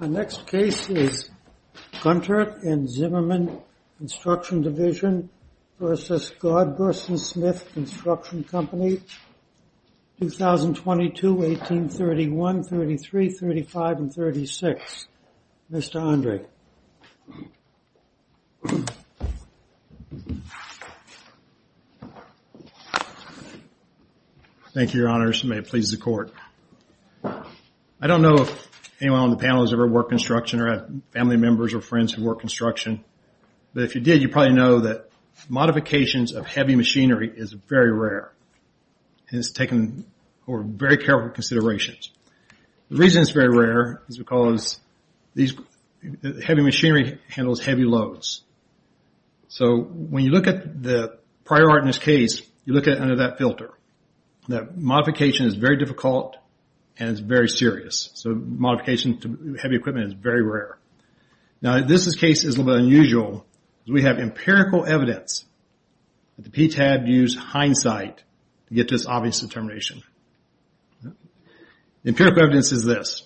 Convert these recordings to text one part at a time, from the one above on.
Co., 2022, 1831, 1833, 1835, and 1836, Mr. Andre. Thank you, Your Honors. May it please the Court. I don't know if anyone on the panel has ever worked construction or had family members or friends who work construction. But if you did, you probably know that modifications of heavy machinery is very rare. And it's taken very careful consideration. The reason it's very rare is because heavy machinery handles heavy loads. So when you look at the prior art in this case, you look under that filter. That modification is very difficult and it's very serious. So modification to heavy equipment is very rare. Now this case is a little bit unusual. We have empirical evidence that the PTAB used hindsight to get this obvious determination. The empirical evidence is this.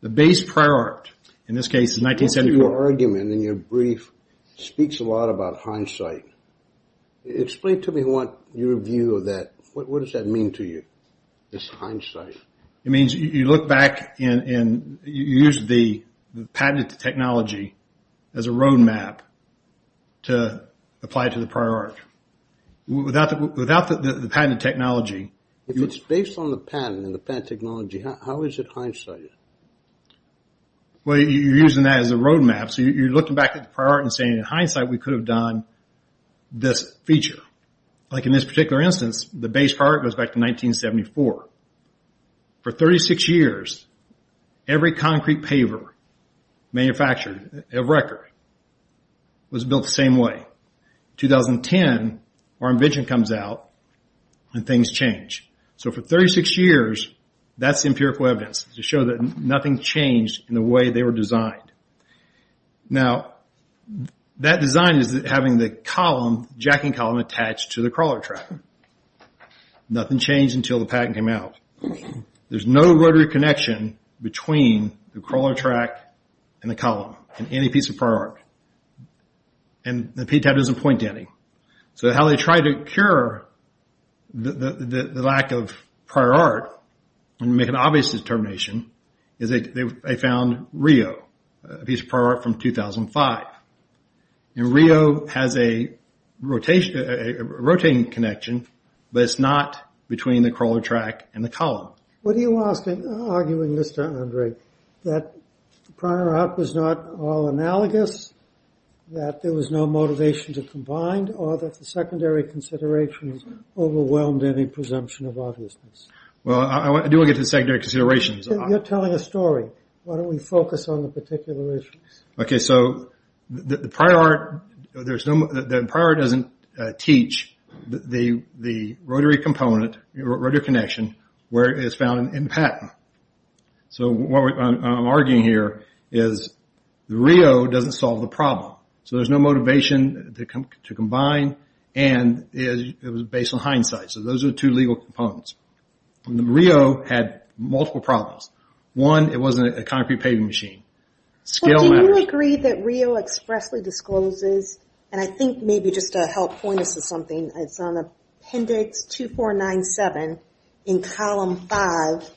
The base prior art in this case is 1974. Your argument in your brief speaks a lot about hindsight. Explain to me your view of that. What does that mean to you, this hindsight? It means you look back and you use the patented technology as a roadmap to apply it to the prior art. Without the patented technology... If it's based on the patent and the patent technology, how is it hindsight? Well, you're using that as a roadmap. So you're looking back at the prior art and saying, in hindsight, we could have done this feature. Like in this particular instance, the base prior art goes back to 1974. For 36 years, every concrete paver manufactured of record was built the same way. 2010, our invention comes out and things change. So for 36 years, that's empirical evidence to show that nothing changed in the way they were designed. Now, that design is having the jacking column attached to the crawler track. Nothing changed until the patent came out. There's no rotary connection between the crawler track and the column in any piece of prior art. And the PTAB doesn't point to any. So how they try to cure the lack of prior art and make an obvious determination is they found Rio, a piece of prior art from 2005. And Rio has a rotating connection, but it's not between the crawler track and the column. What are you arguing, Mr. Andre? That prior art was not all analogous? That there was no motivation to combine? Or that the secondary considerations overwhelmed any presumption of obviousness? Well, I do want to get to the secondary considerations. You're telling a story. Why don't we focus on the particular issues? Okay, so the prior art doesn't teach the rotary connection where it's found in patent. So what I'm arguing here is Rio doesn't solve the problem. So there's no motivation to combine, and it was based on hindsight. So those are two legal components. Rio had multiple problems. One, it wasn't a concrete paving machine. So do you agree that Rio expressly discloses, and I think maybe just to help point us to something, it's on appendix 2497 in column 5,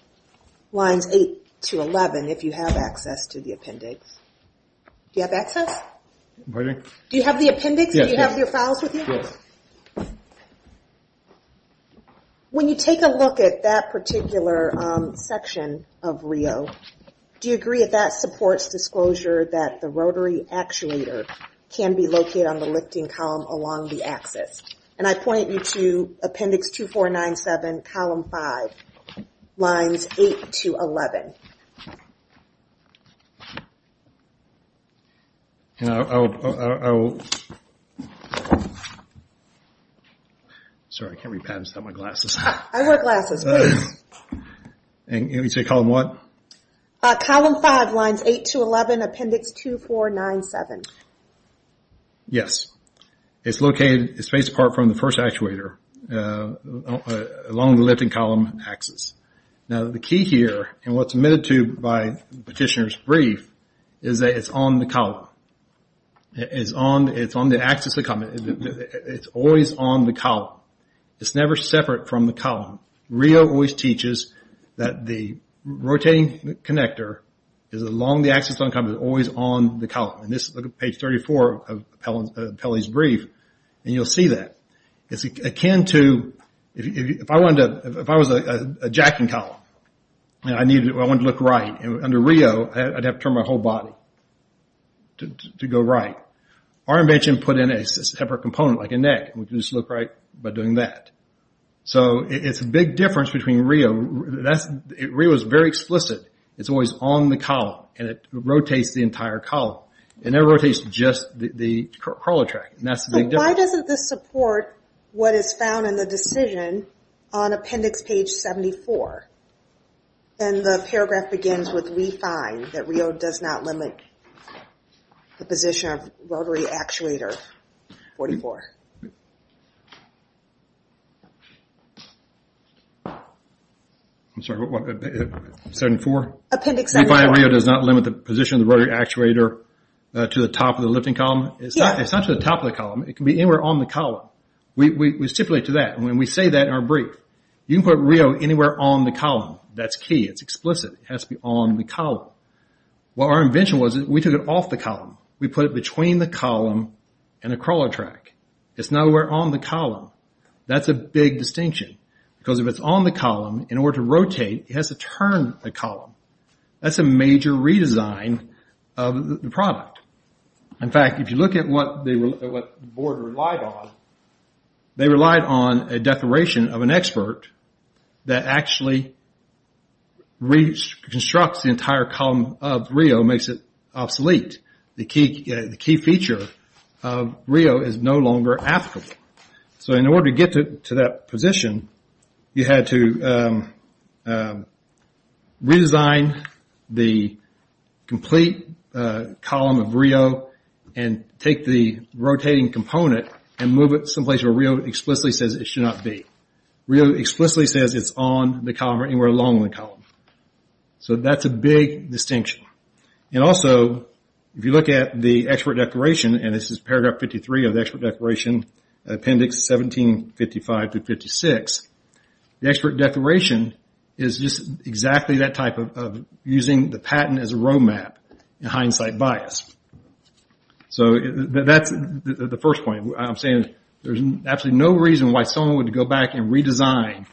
lines 8 to 11, if you have access to the appendix. Do you have access? Pardon? Do you have the appendix? Yes. Do you have your files with you? Yes. When you take a look at that particular section of Rio, do you agree that that supports disclosure that the rotary actuator can be located on the lifting column along the axis? And I point you to appendix 2497, column 5, lines 8 to 11. Sorry, I can't read patents without my glasses. I wear glasses, please. And you say column what? Column 5, lines 8 to 11, appendix 2497. Yes. It's located, it's spaced apart from the first actuator along the lifting column axis. Now the key here, and what's admitted to by Petitioner's brief, is that it's on the column. It's on the axis of the column. It's always on the column. It's never separate from the column. Rio always teaches that the rotating connector is along the axis of the column, it's always on the column. And this is page 34 of Pelley's brief, and you'll see that. It's akin to, if I was a jacking column and I wanted to look right under Rio, I'd have to turn my whole body to go right. Our invention put in a separate component like a neck, and we can just look right by doing that. So it's a big difference between Rio. Rio is very explicit. It's always on the column, and it rotates the entire column. It never rotates just the crawler track, and that's the big difference. Why doesn't this support what is found in the decision on appendix page 74? And the paragraph begins with, We find that Rio does not limit the position of rotary actuator 44. I'm sorry, what, 74? Appendix 74. We find that Rio does not limit the position of the rotary actuator to the top of the lifting column. It's not to the top of the column. It can be anywhere on the column. We stipulate to that, and we say that in our brief. You can put Rio anywhere on the column. That's key. It's explicit. It has to be on the column. Well, our invention was we took it off the column. We put it between the column and the crawler track. It's nowhere on the column. That's a big distinction because if it's on the column, in order to rotate, it has to turn the column. That's a major redesign of the product. In fact, if you look at what the board relied on, they relied on a declaration of an expert that actually reconstructs the entire column of Rio, makes it obsolete. The key feature of Rio is no longer applicable. In order to get to that position, you had to redesign the complete column of Rio and take the rotating component and move it someplace where Rio explicitly says it should not be. Rio explicitly says it's on the column or anywhere along the column. That's a big distinction. Also, if you look at the expert declaration, and this is paragraph 53 of the expert declaration, appendix 1755-56, the expert declaration is just exactly that type of using the patent as a road map in hindsight bias. That's the first point. I'm saying there's absolutely no reason why someone would go back and redesign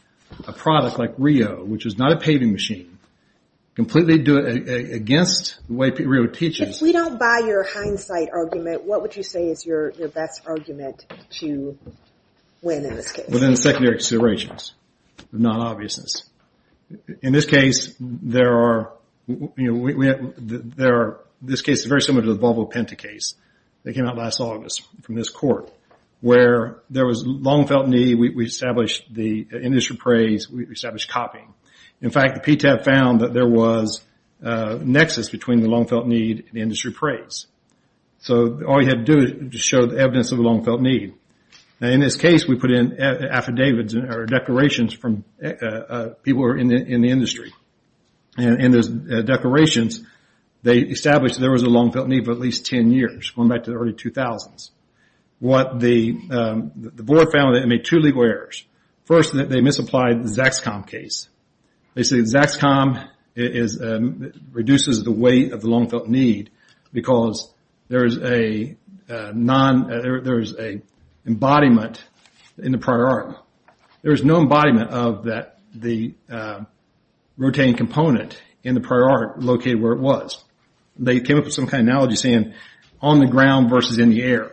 a product like Rio, which is not a paving machine, completely against the way Rio teaches. If we don't buy your hindsight argument, what would you say is your best argument to win in this case? Well, then, secondary considerations, not obviousness. In this case, this case is very similar to the Volvo Penta case that came out last August from this court, where there was long-felt need, we established the industry praise, we established copying. In fact, PTAP found that there was a nexus between the long-felt need and the industry praise. All you had to do was show the evidence of the long-felt need. In this case, we put in affidavits or declarations from people in the industry. In those declarations, they established there was a long-felt need for at least ten years, going back to the early 2000s. The board found that it made two legal errors. First, they misapplied the Zaxcom case. They said Zaxcom reduces the weight of the long-felt need because there is an embodiment in the prior art. There is no embodiment of the rotating component in the prior art located where it was. They came up with some kind of analogy saying on the ground versus in the air,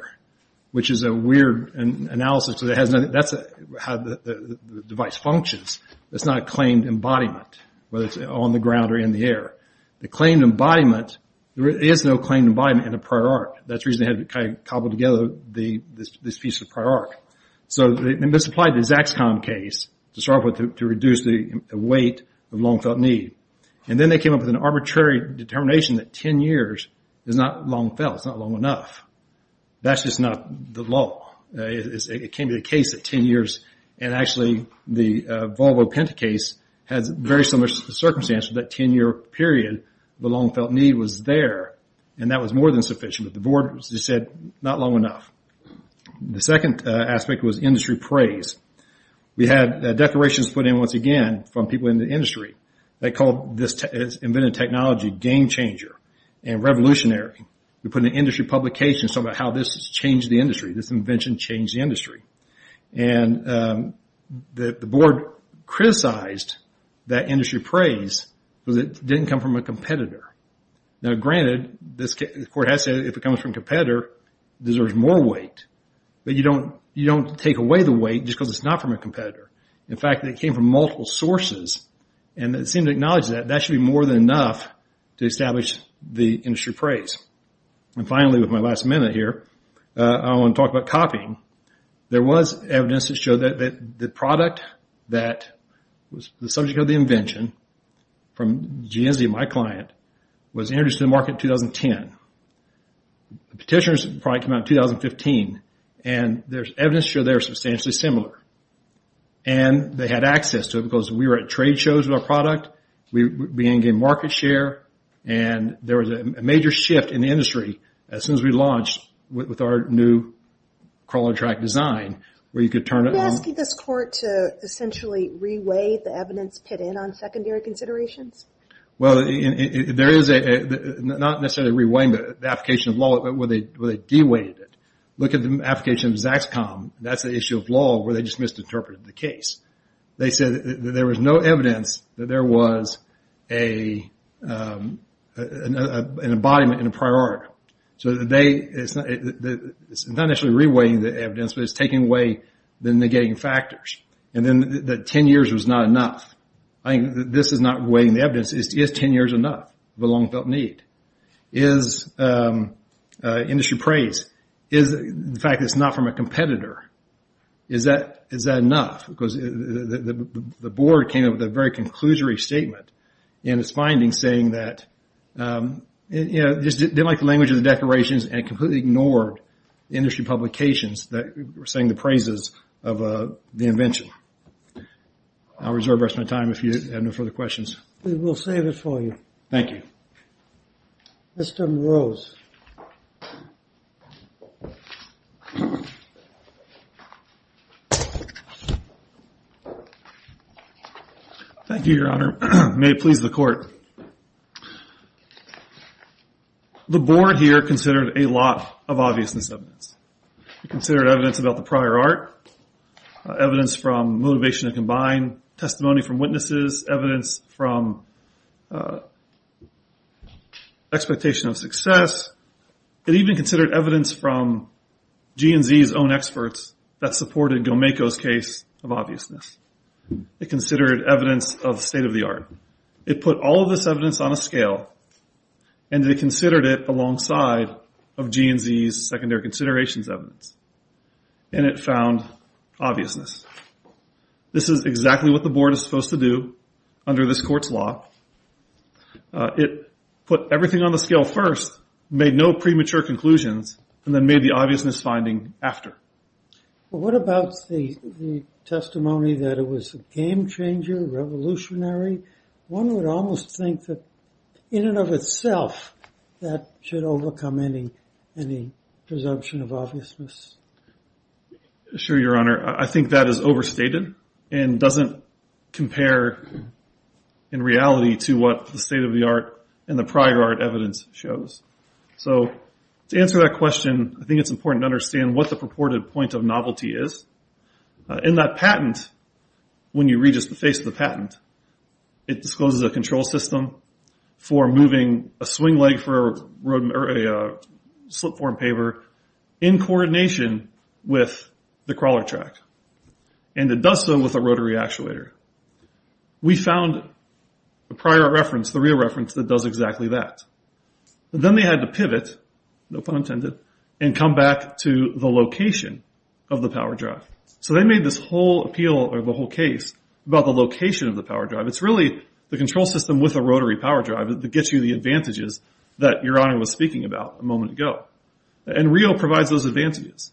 which is a weird analysis. That's how the device functions. It's not a claimed embodiment, whether it's on the ground or in the air. The claimed embodiment, there is no claimed embodiment in the prior art. That's the reason they had to cobble together this piece of prior art. They misapplied the Zaxcom case to start with to reduce the weight of long-felt need. Then they came up with an arbitrary determination that ten years is not long-felt. It's not long enough. That's just not the law. It came to the case of ten years. Actually, the Volvo Penta case has very similar circumstances. That ten-year period, the long-felt need was there. That was more than sufficient. The board said not long enough. The second aspect was industry praise. We had declarations put in, once again, from people in the industry. They called this invented technology game changer and revolutionary. We put in an industry publication talking about how this changed the industry, this invention changed the industry. The board criticized that industry praise because it didn't come from a competitor. Now, granted, the court has said if it comes from a competitor, it deserves more weight. But you don't take away the weight just because it's not from a competitor. In fact, it came from multiple sources, and it seemed to acknowledge that that should be more than enough to establish the industry praise. Finally, with my last minute here, I want to talk about copying. There was evidence that showed that the product that was the subject of the invention from GSD, my client, was introduced to the market in 2010. The petitioner's product came out in 2015. There's evidence to show they were substantially similar. They had access to it because we were at trade shows with our product. We were gaining market share. There was a major shift in the industry as soon as we launched with our new crawler track design where you could turn it on. Are you asking this court to essentially re-weigh the evidence put in on secondary considerations? Well, not necessarily re-weighing the application of law, but where they de-weighed it. Look at the application of Zaxcom. That's the issue of law where they just misinterpreted the case. They said that there was no evidence that there was an embodiment and a priority. It's not actually re-weighing the evidence, but it's taking away the negating factors. And then that 10 years was not enough. I think this is not weighing the evidence. Is 10 years enough of a long-felt need? Is industry praise, the fact that it's not from a competitor, is that enough? Because the board came up with a very conclusory statement in its findings saying that they didn't like the language of the declarations and completely ignored the industry publications that were saying the praises of the invention. I'll reserve the rest of my time if you have no further questions. We will save it for you. Thank you. Mr. Morose. Thank you, Your Honor. May it please the court. The board here considered a lot of obviousness evidence. It considered evidence about the prior art, evidence from motivation to combine, testimony from witnesses, evidence from expectation of success. It even considered evidence from GNZ's own experts that supported Gomeko's case of obviousness. It considered evidence of state of the art. It put all of this evidence on a scale, and it considered it alongside of GNZ's secondary considerations evidence, and it found obviousness. This is exactly what the board is supposed to do under this court's law. It put everything on the scale first, made no premature conclusions, and then made the obviousness finding after. One would almost think that, in and of itself, that should overcome any presumption of obviousness. Sure, Your Honor. I think that is overstated and doesn't compare in reality to what the state of the art and the prior art evidence shows. So to answer that question, I think it's important to understand what the purported point of novelty is. In that patent, when you read just the face of the patent, it discloses a control system for moving a swing leg for a slip form paper in coordination with the crawler track, and it does so with a rotary actuator. We found a prior reference, the real reference, that does exactly that. But then they had to pivot, no pun intended, and come back to the location of the power drive. So they made this whole appeal or the whole case about the location of the power drive. It's really the control system with a rotary power drive that gets you the advantages that Your Honor was speaking about a moment ago. And Rio provides those advantages.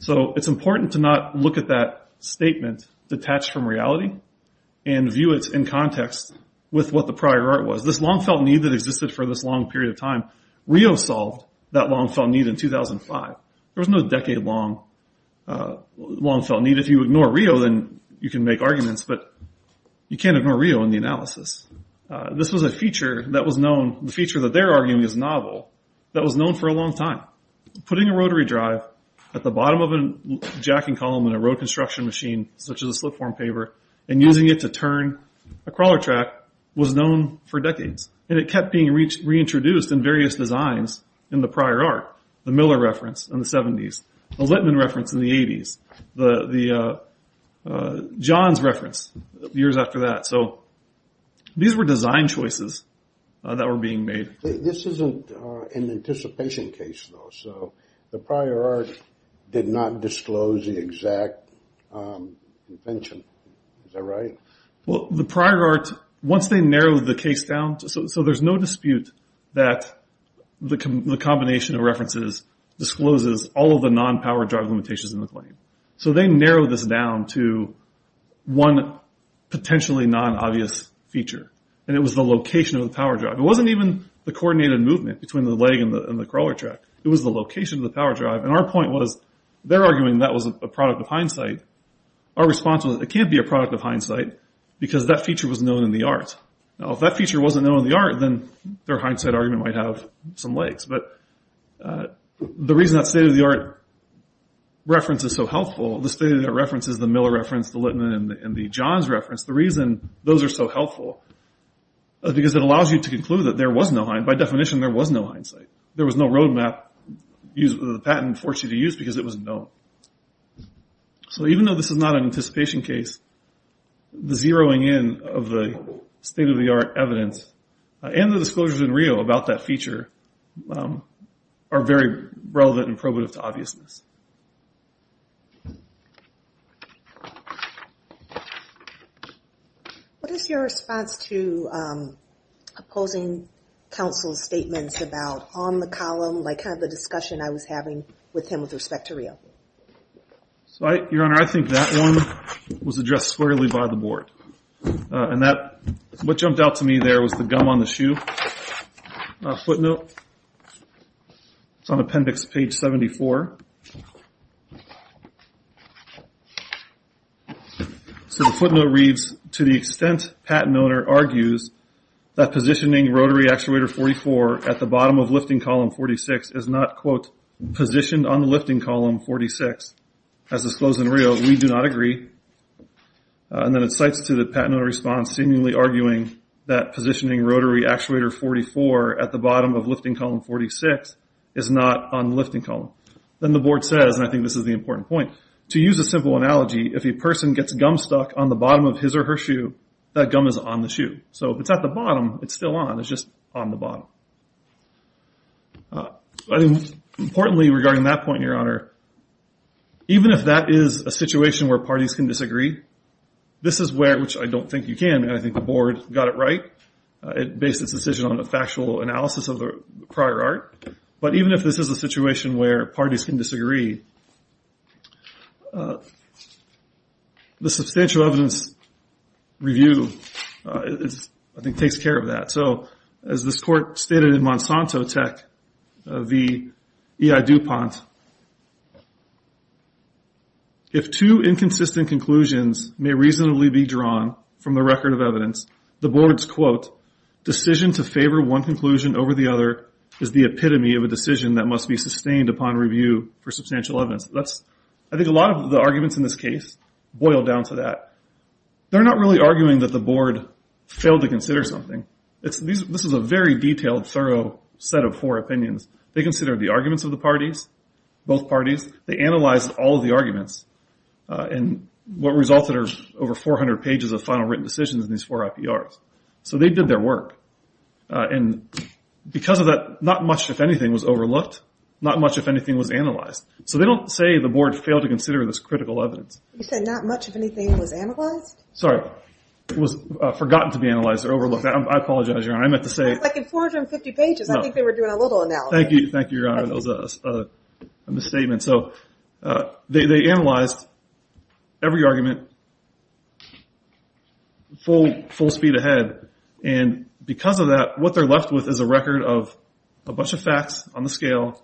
So it's important to not look at that statement detached from reality and view it in context with what the prior art was. This long-felt need that existed for this long period of time, Rio solved that long-felt need in 2005. There was no decade-long long-felt need. If you ignore Rio, then you can make arguments, but you can't ignore Rio in the analysis. This was a feature that was known, the feature that they're arguing is novel, that was known for a long time. Putting a rotary drive at the bottom of a jacking column in a road construction machine, such as a slip form paper, and using it to turn a crawler track was known for decades. And it kept being reintroduced in various designs in the prior art, the Miller reference in the 70s, the Littman reference in the 80s, the Johns reference years after that. So these were design choices that were being made. This isn't an anticipation case, though. So the prior art did not disclose the exact invention. Is that right? Well, the prior art, once they narrowed the case down, so there's no dispute that the combination of references discloses all of the non-power drive limitations in the claim. So they narrowed this down to one potentially non-obvious feature, and it was the location of the power drive. It wasn't even the coordinated movement between the leg and the crawler track. It was the location of the power drive. And our point was, they're arguing that was a product of hindsight. Our response was, it can't be a product of hindsight, because that feature was known in the art. Now, if that feature wasn't known in the art, then their hindsight argument might have some legs. But the reason that state-of-the-art reference is so helpful, the state-of-the-art reference is the Miller reference, the Littman, and the Johns reference. The reason those are so helpful is because it allows you to conclude that there was no hindsight. By definition, there was no hindsight. There was no roadmap used with a patent forced you to use because it was known. So even though this is not an anticipation case, the zeroing in of the state-of-the-art evidence and the disclosures in Rio about that feature are very relevant and probative to obviousness. What is your response to opposing counsel's statements about on the column, like the discussion I was having with him with respect to Rio? Your Honor, I think that one was addressed squarely by the board. And what jumped out to me there was the gum on the shoe footnote. It's on appendix page 74. So the footnote reads, to the extent patent owner argues that positioning rotary actuator 44 at the bottom of lifting column 46 is not, quote, positioned on the lifting column 46, as disclosed in Rio, we do not agree. And then it cites to the patent owner's response, seemingly arguing that positioning rotary actuator 44 at the bottom of lifting column 46 is not on the lifting column. Then the board says, and I think this is the important point, to use a simple analogy, if a person gets gum stuck on the bottom of his or her shoe, that gum is on the shoe. So if it's at the bottom, it's still on. It's just on the bottom. Importantly, regarding that point, Your Honor, even if that is a situation where parties can disagree, this is where, which I don't think you can, and I think the board got it right. It based its decision on a factual analysis of the prior art. But even if this is a situation where parties can disagree, the substantial evidence review, I think, takes care of that. So as this court stated in Monsanto Tech v. E.I. DuPont, if two inconsistent conclusions may reasonably be drawn from the record of evidence, the board's, quote, decision to favor one conclusion over the other is the epitome of a decision that must be sustained upon review for substantial evidence. I think a lot of the arguments in this case boil down to that. They're not really arguing that the board failed to consider something. This is a very detailed, thorough set of four opinions. They considered the arguments of the parties, both parties. They analyzed all of the arguments and what resulted are over 400 pages of final written decisions in these four IPRs. So they did their work. And because of that, not much, if anything, was overlooked. Not much, if anything, was analyzed. So they don't say the board failed to consider this critical evidence. You said not much, if anything, was analyzed? Sorry. It was forgotten to be analyzed or overlooked. I apologize, Your Honor. I meant to say. Like in 450 pages. I think they were doing a little analysis. Thank you. Thank you, Your Honor. That was a misstatement. So they analyzed every argument full speed ahead. And because of that, what they're left with is a record of a bunch of facts on the scale.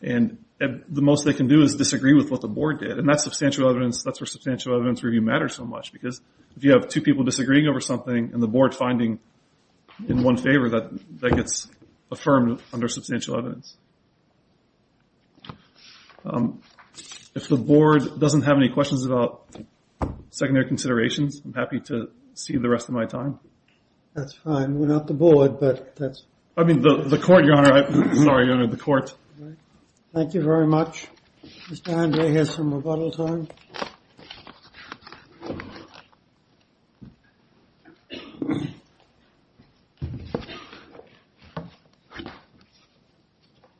And the most they can do is disagree with what the board did. And that's where substantial evidence review matters so much. Because if you have two people disagreeing over something and the board finding in one favor, that gets affirmed under substantial evidence. If the board doesn't have any questions about secondary considerations, I'm happy to see the rest of my time. That's fine. We're not the board, but that's. I mean, the court, Your Honor. Sorry, Your Honor, the court. Thank you very much. Mr. Andre has some rebuttal time.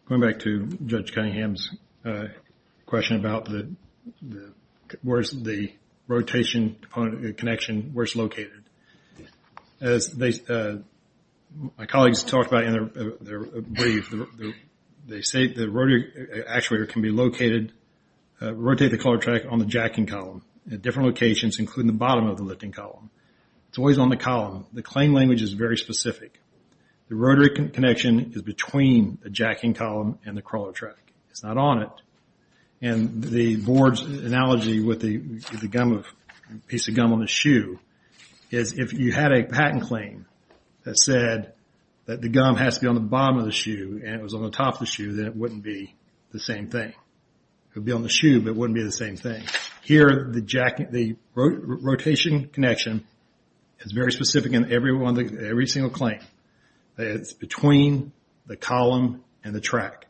Going back to Judge Cunningham's question about the rotation connection, where it's located. As my colleagues talked about in their brief, they say the rotary actuator can be located, rotate the crawler track on the jacking column at different locations, including the bottom of the lifting column. It's always on the column. The claim language is very specific. The rotary connection is between the jacking column and the crawler track. It's not on it. And the board's analogy with the piece of gum on the shoe is, if it was on the bottom of the shoe and it was on the top of the shoe, then it wouldn't be the same thing. It would be on the shoe, but it wouldn't be the same thing. Here, the rotation connection is very specific in every single claim. It's between the column and the track.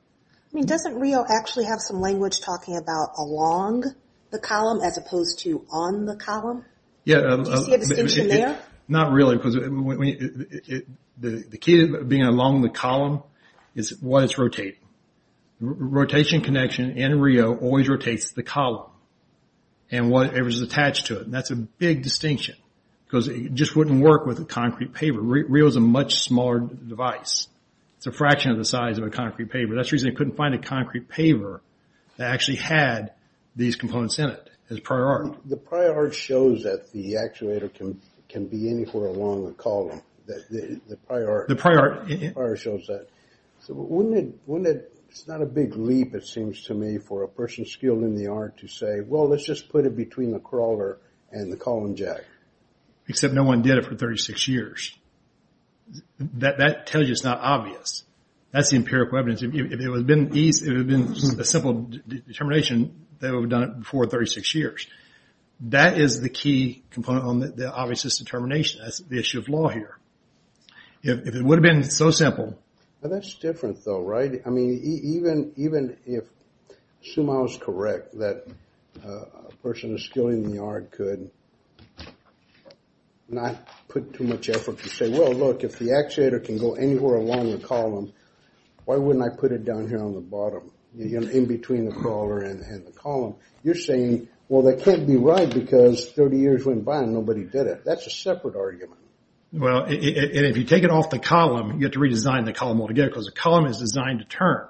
I mean, doesn't Rio actually have some language talking about along the column as opposed to on the column? Do you see a distinction there? Not really because the key to being along the column is what it's rotating. The rotation connection in Rio always rotates the column and whatever's attached to it. And that's a big distinction because it just wouldn't work with a concrete paver. Rio's a much smaller device. It's a fraction of the size of a concrete paver. That's the reason they couldn't find a concrete paver that actually had these components in it as prior art. The prior art shows that the actuator can be anywhere along the column. The prior art shows that. So wouldn't it – it's not a big leap, it seems to me, for a person skilled in the art to say, well, let's just put it between the crawler and the column jack. Except no one did it for 36 years. That tells you it's not obvious. That's the empirical evidence. If it had been a simple determination, they would have done it before 36 years. That is the key component on the obvious determination. That's the issue of law here. If it would have been so simple. That's different, though, right? I mean, even if Sumao's correct that a person who's skilled in the art could not put too much effort to say, well, look, if the actuator can go anywhere along the column, why wouldn't I put it down here on the bottom, in between the crawler and the column? You're saying, well, that can't be right because 30 years went by and nobody did it. That's a separate argument. Well, and if you take it off the column, you have to redesign the column altogether because the column is designed to turn.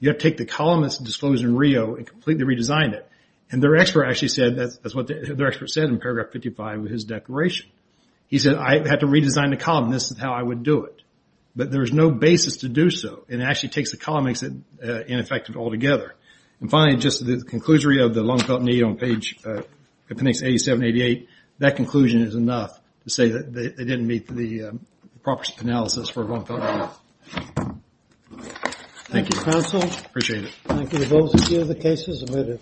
You have to take the column that's disclosed in Rio and completely redesign it. And their expert actually said – that's what their expert said in paragraph 55 of his declaration. He said, I had to redesign the column. This is how I would do it. But there's no basis to do so. It actually takes the column and makes it ineffective altogether. And finally, just the conclusory of the long-felt need on page 87, 88. That conclusion is enough to say that they didn't meet the proper analysis for a long-felt need. Thank you, counsel. Appreciate it. Thank you. The case is admitted.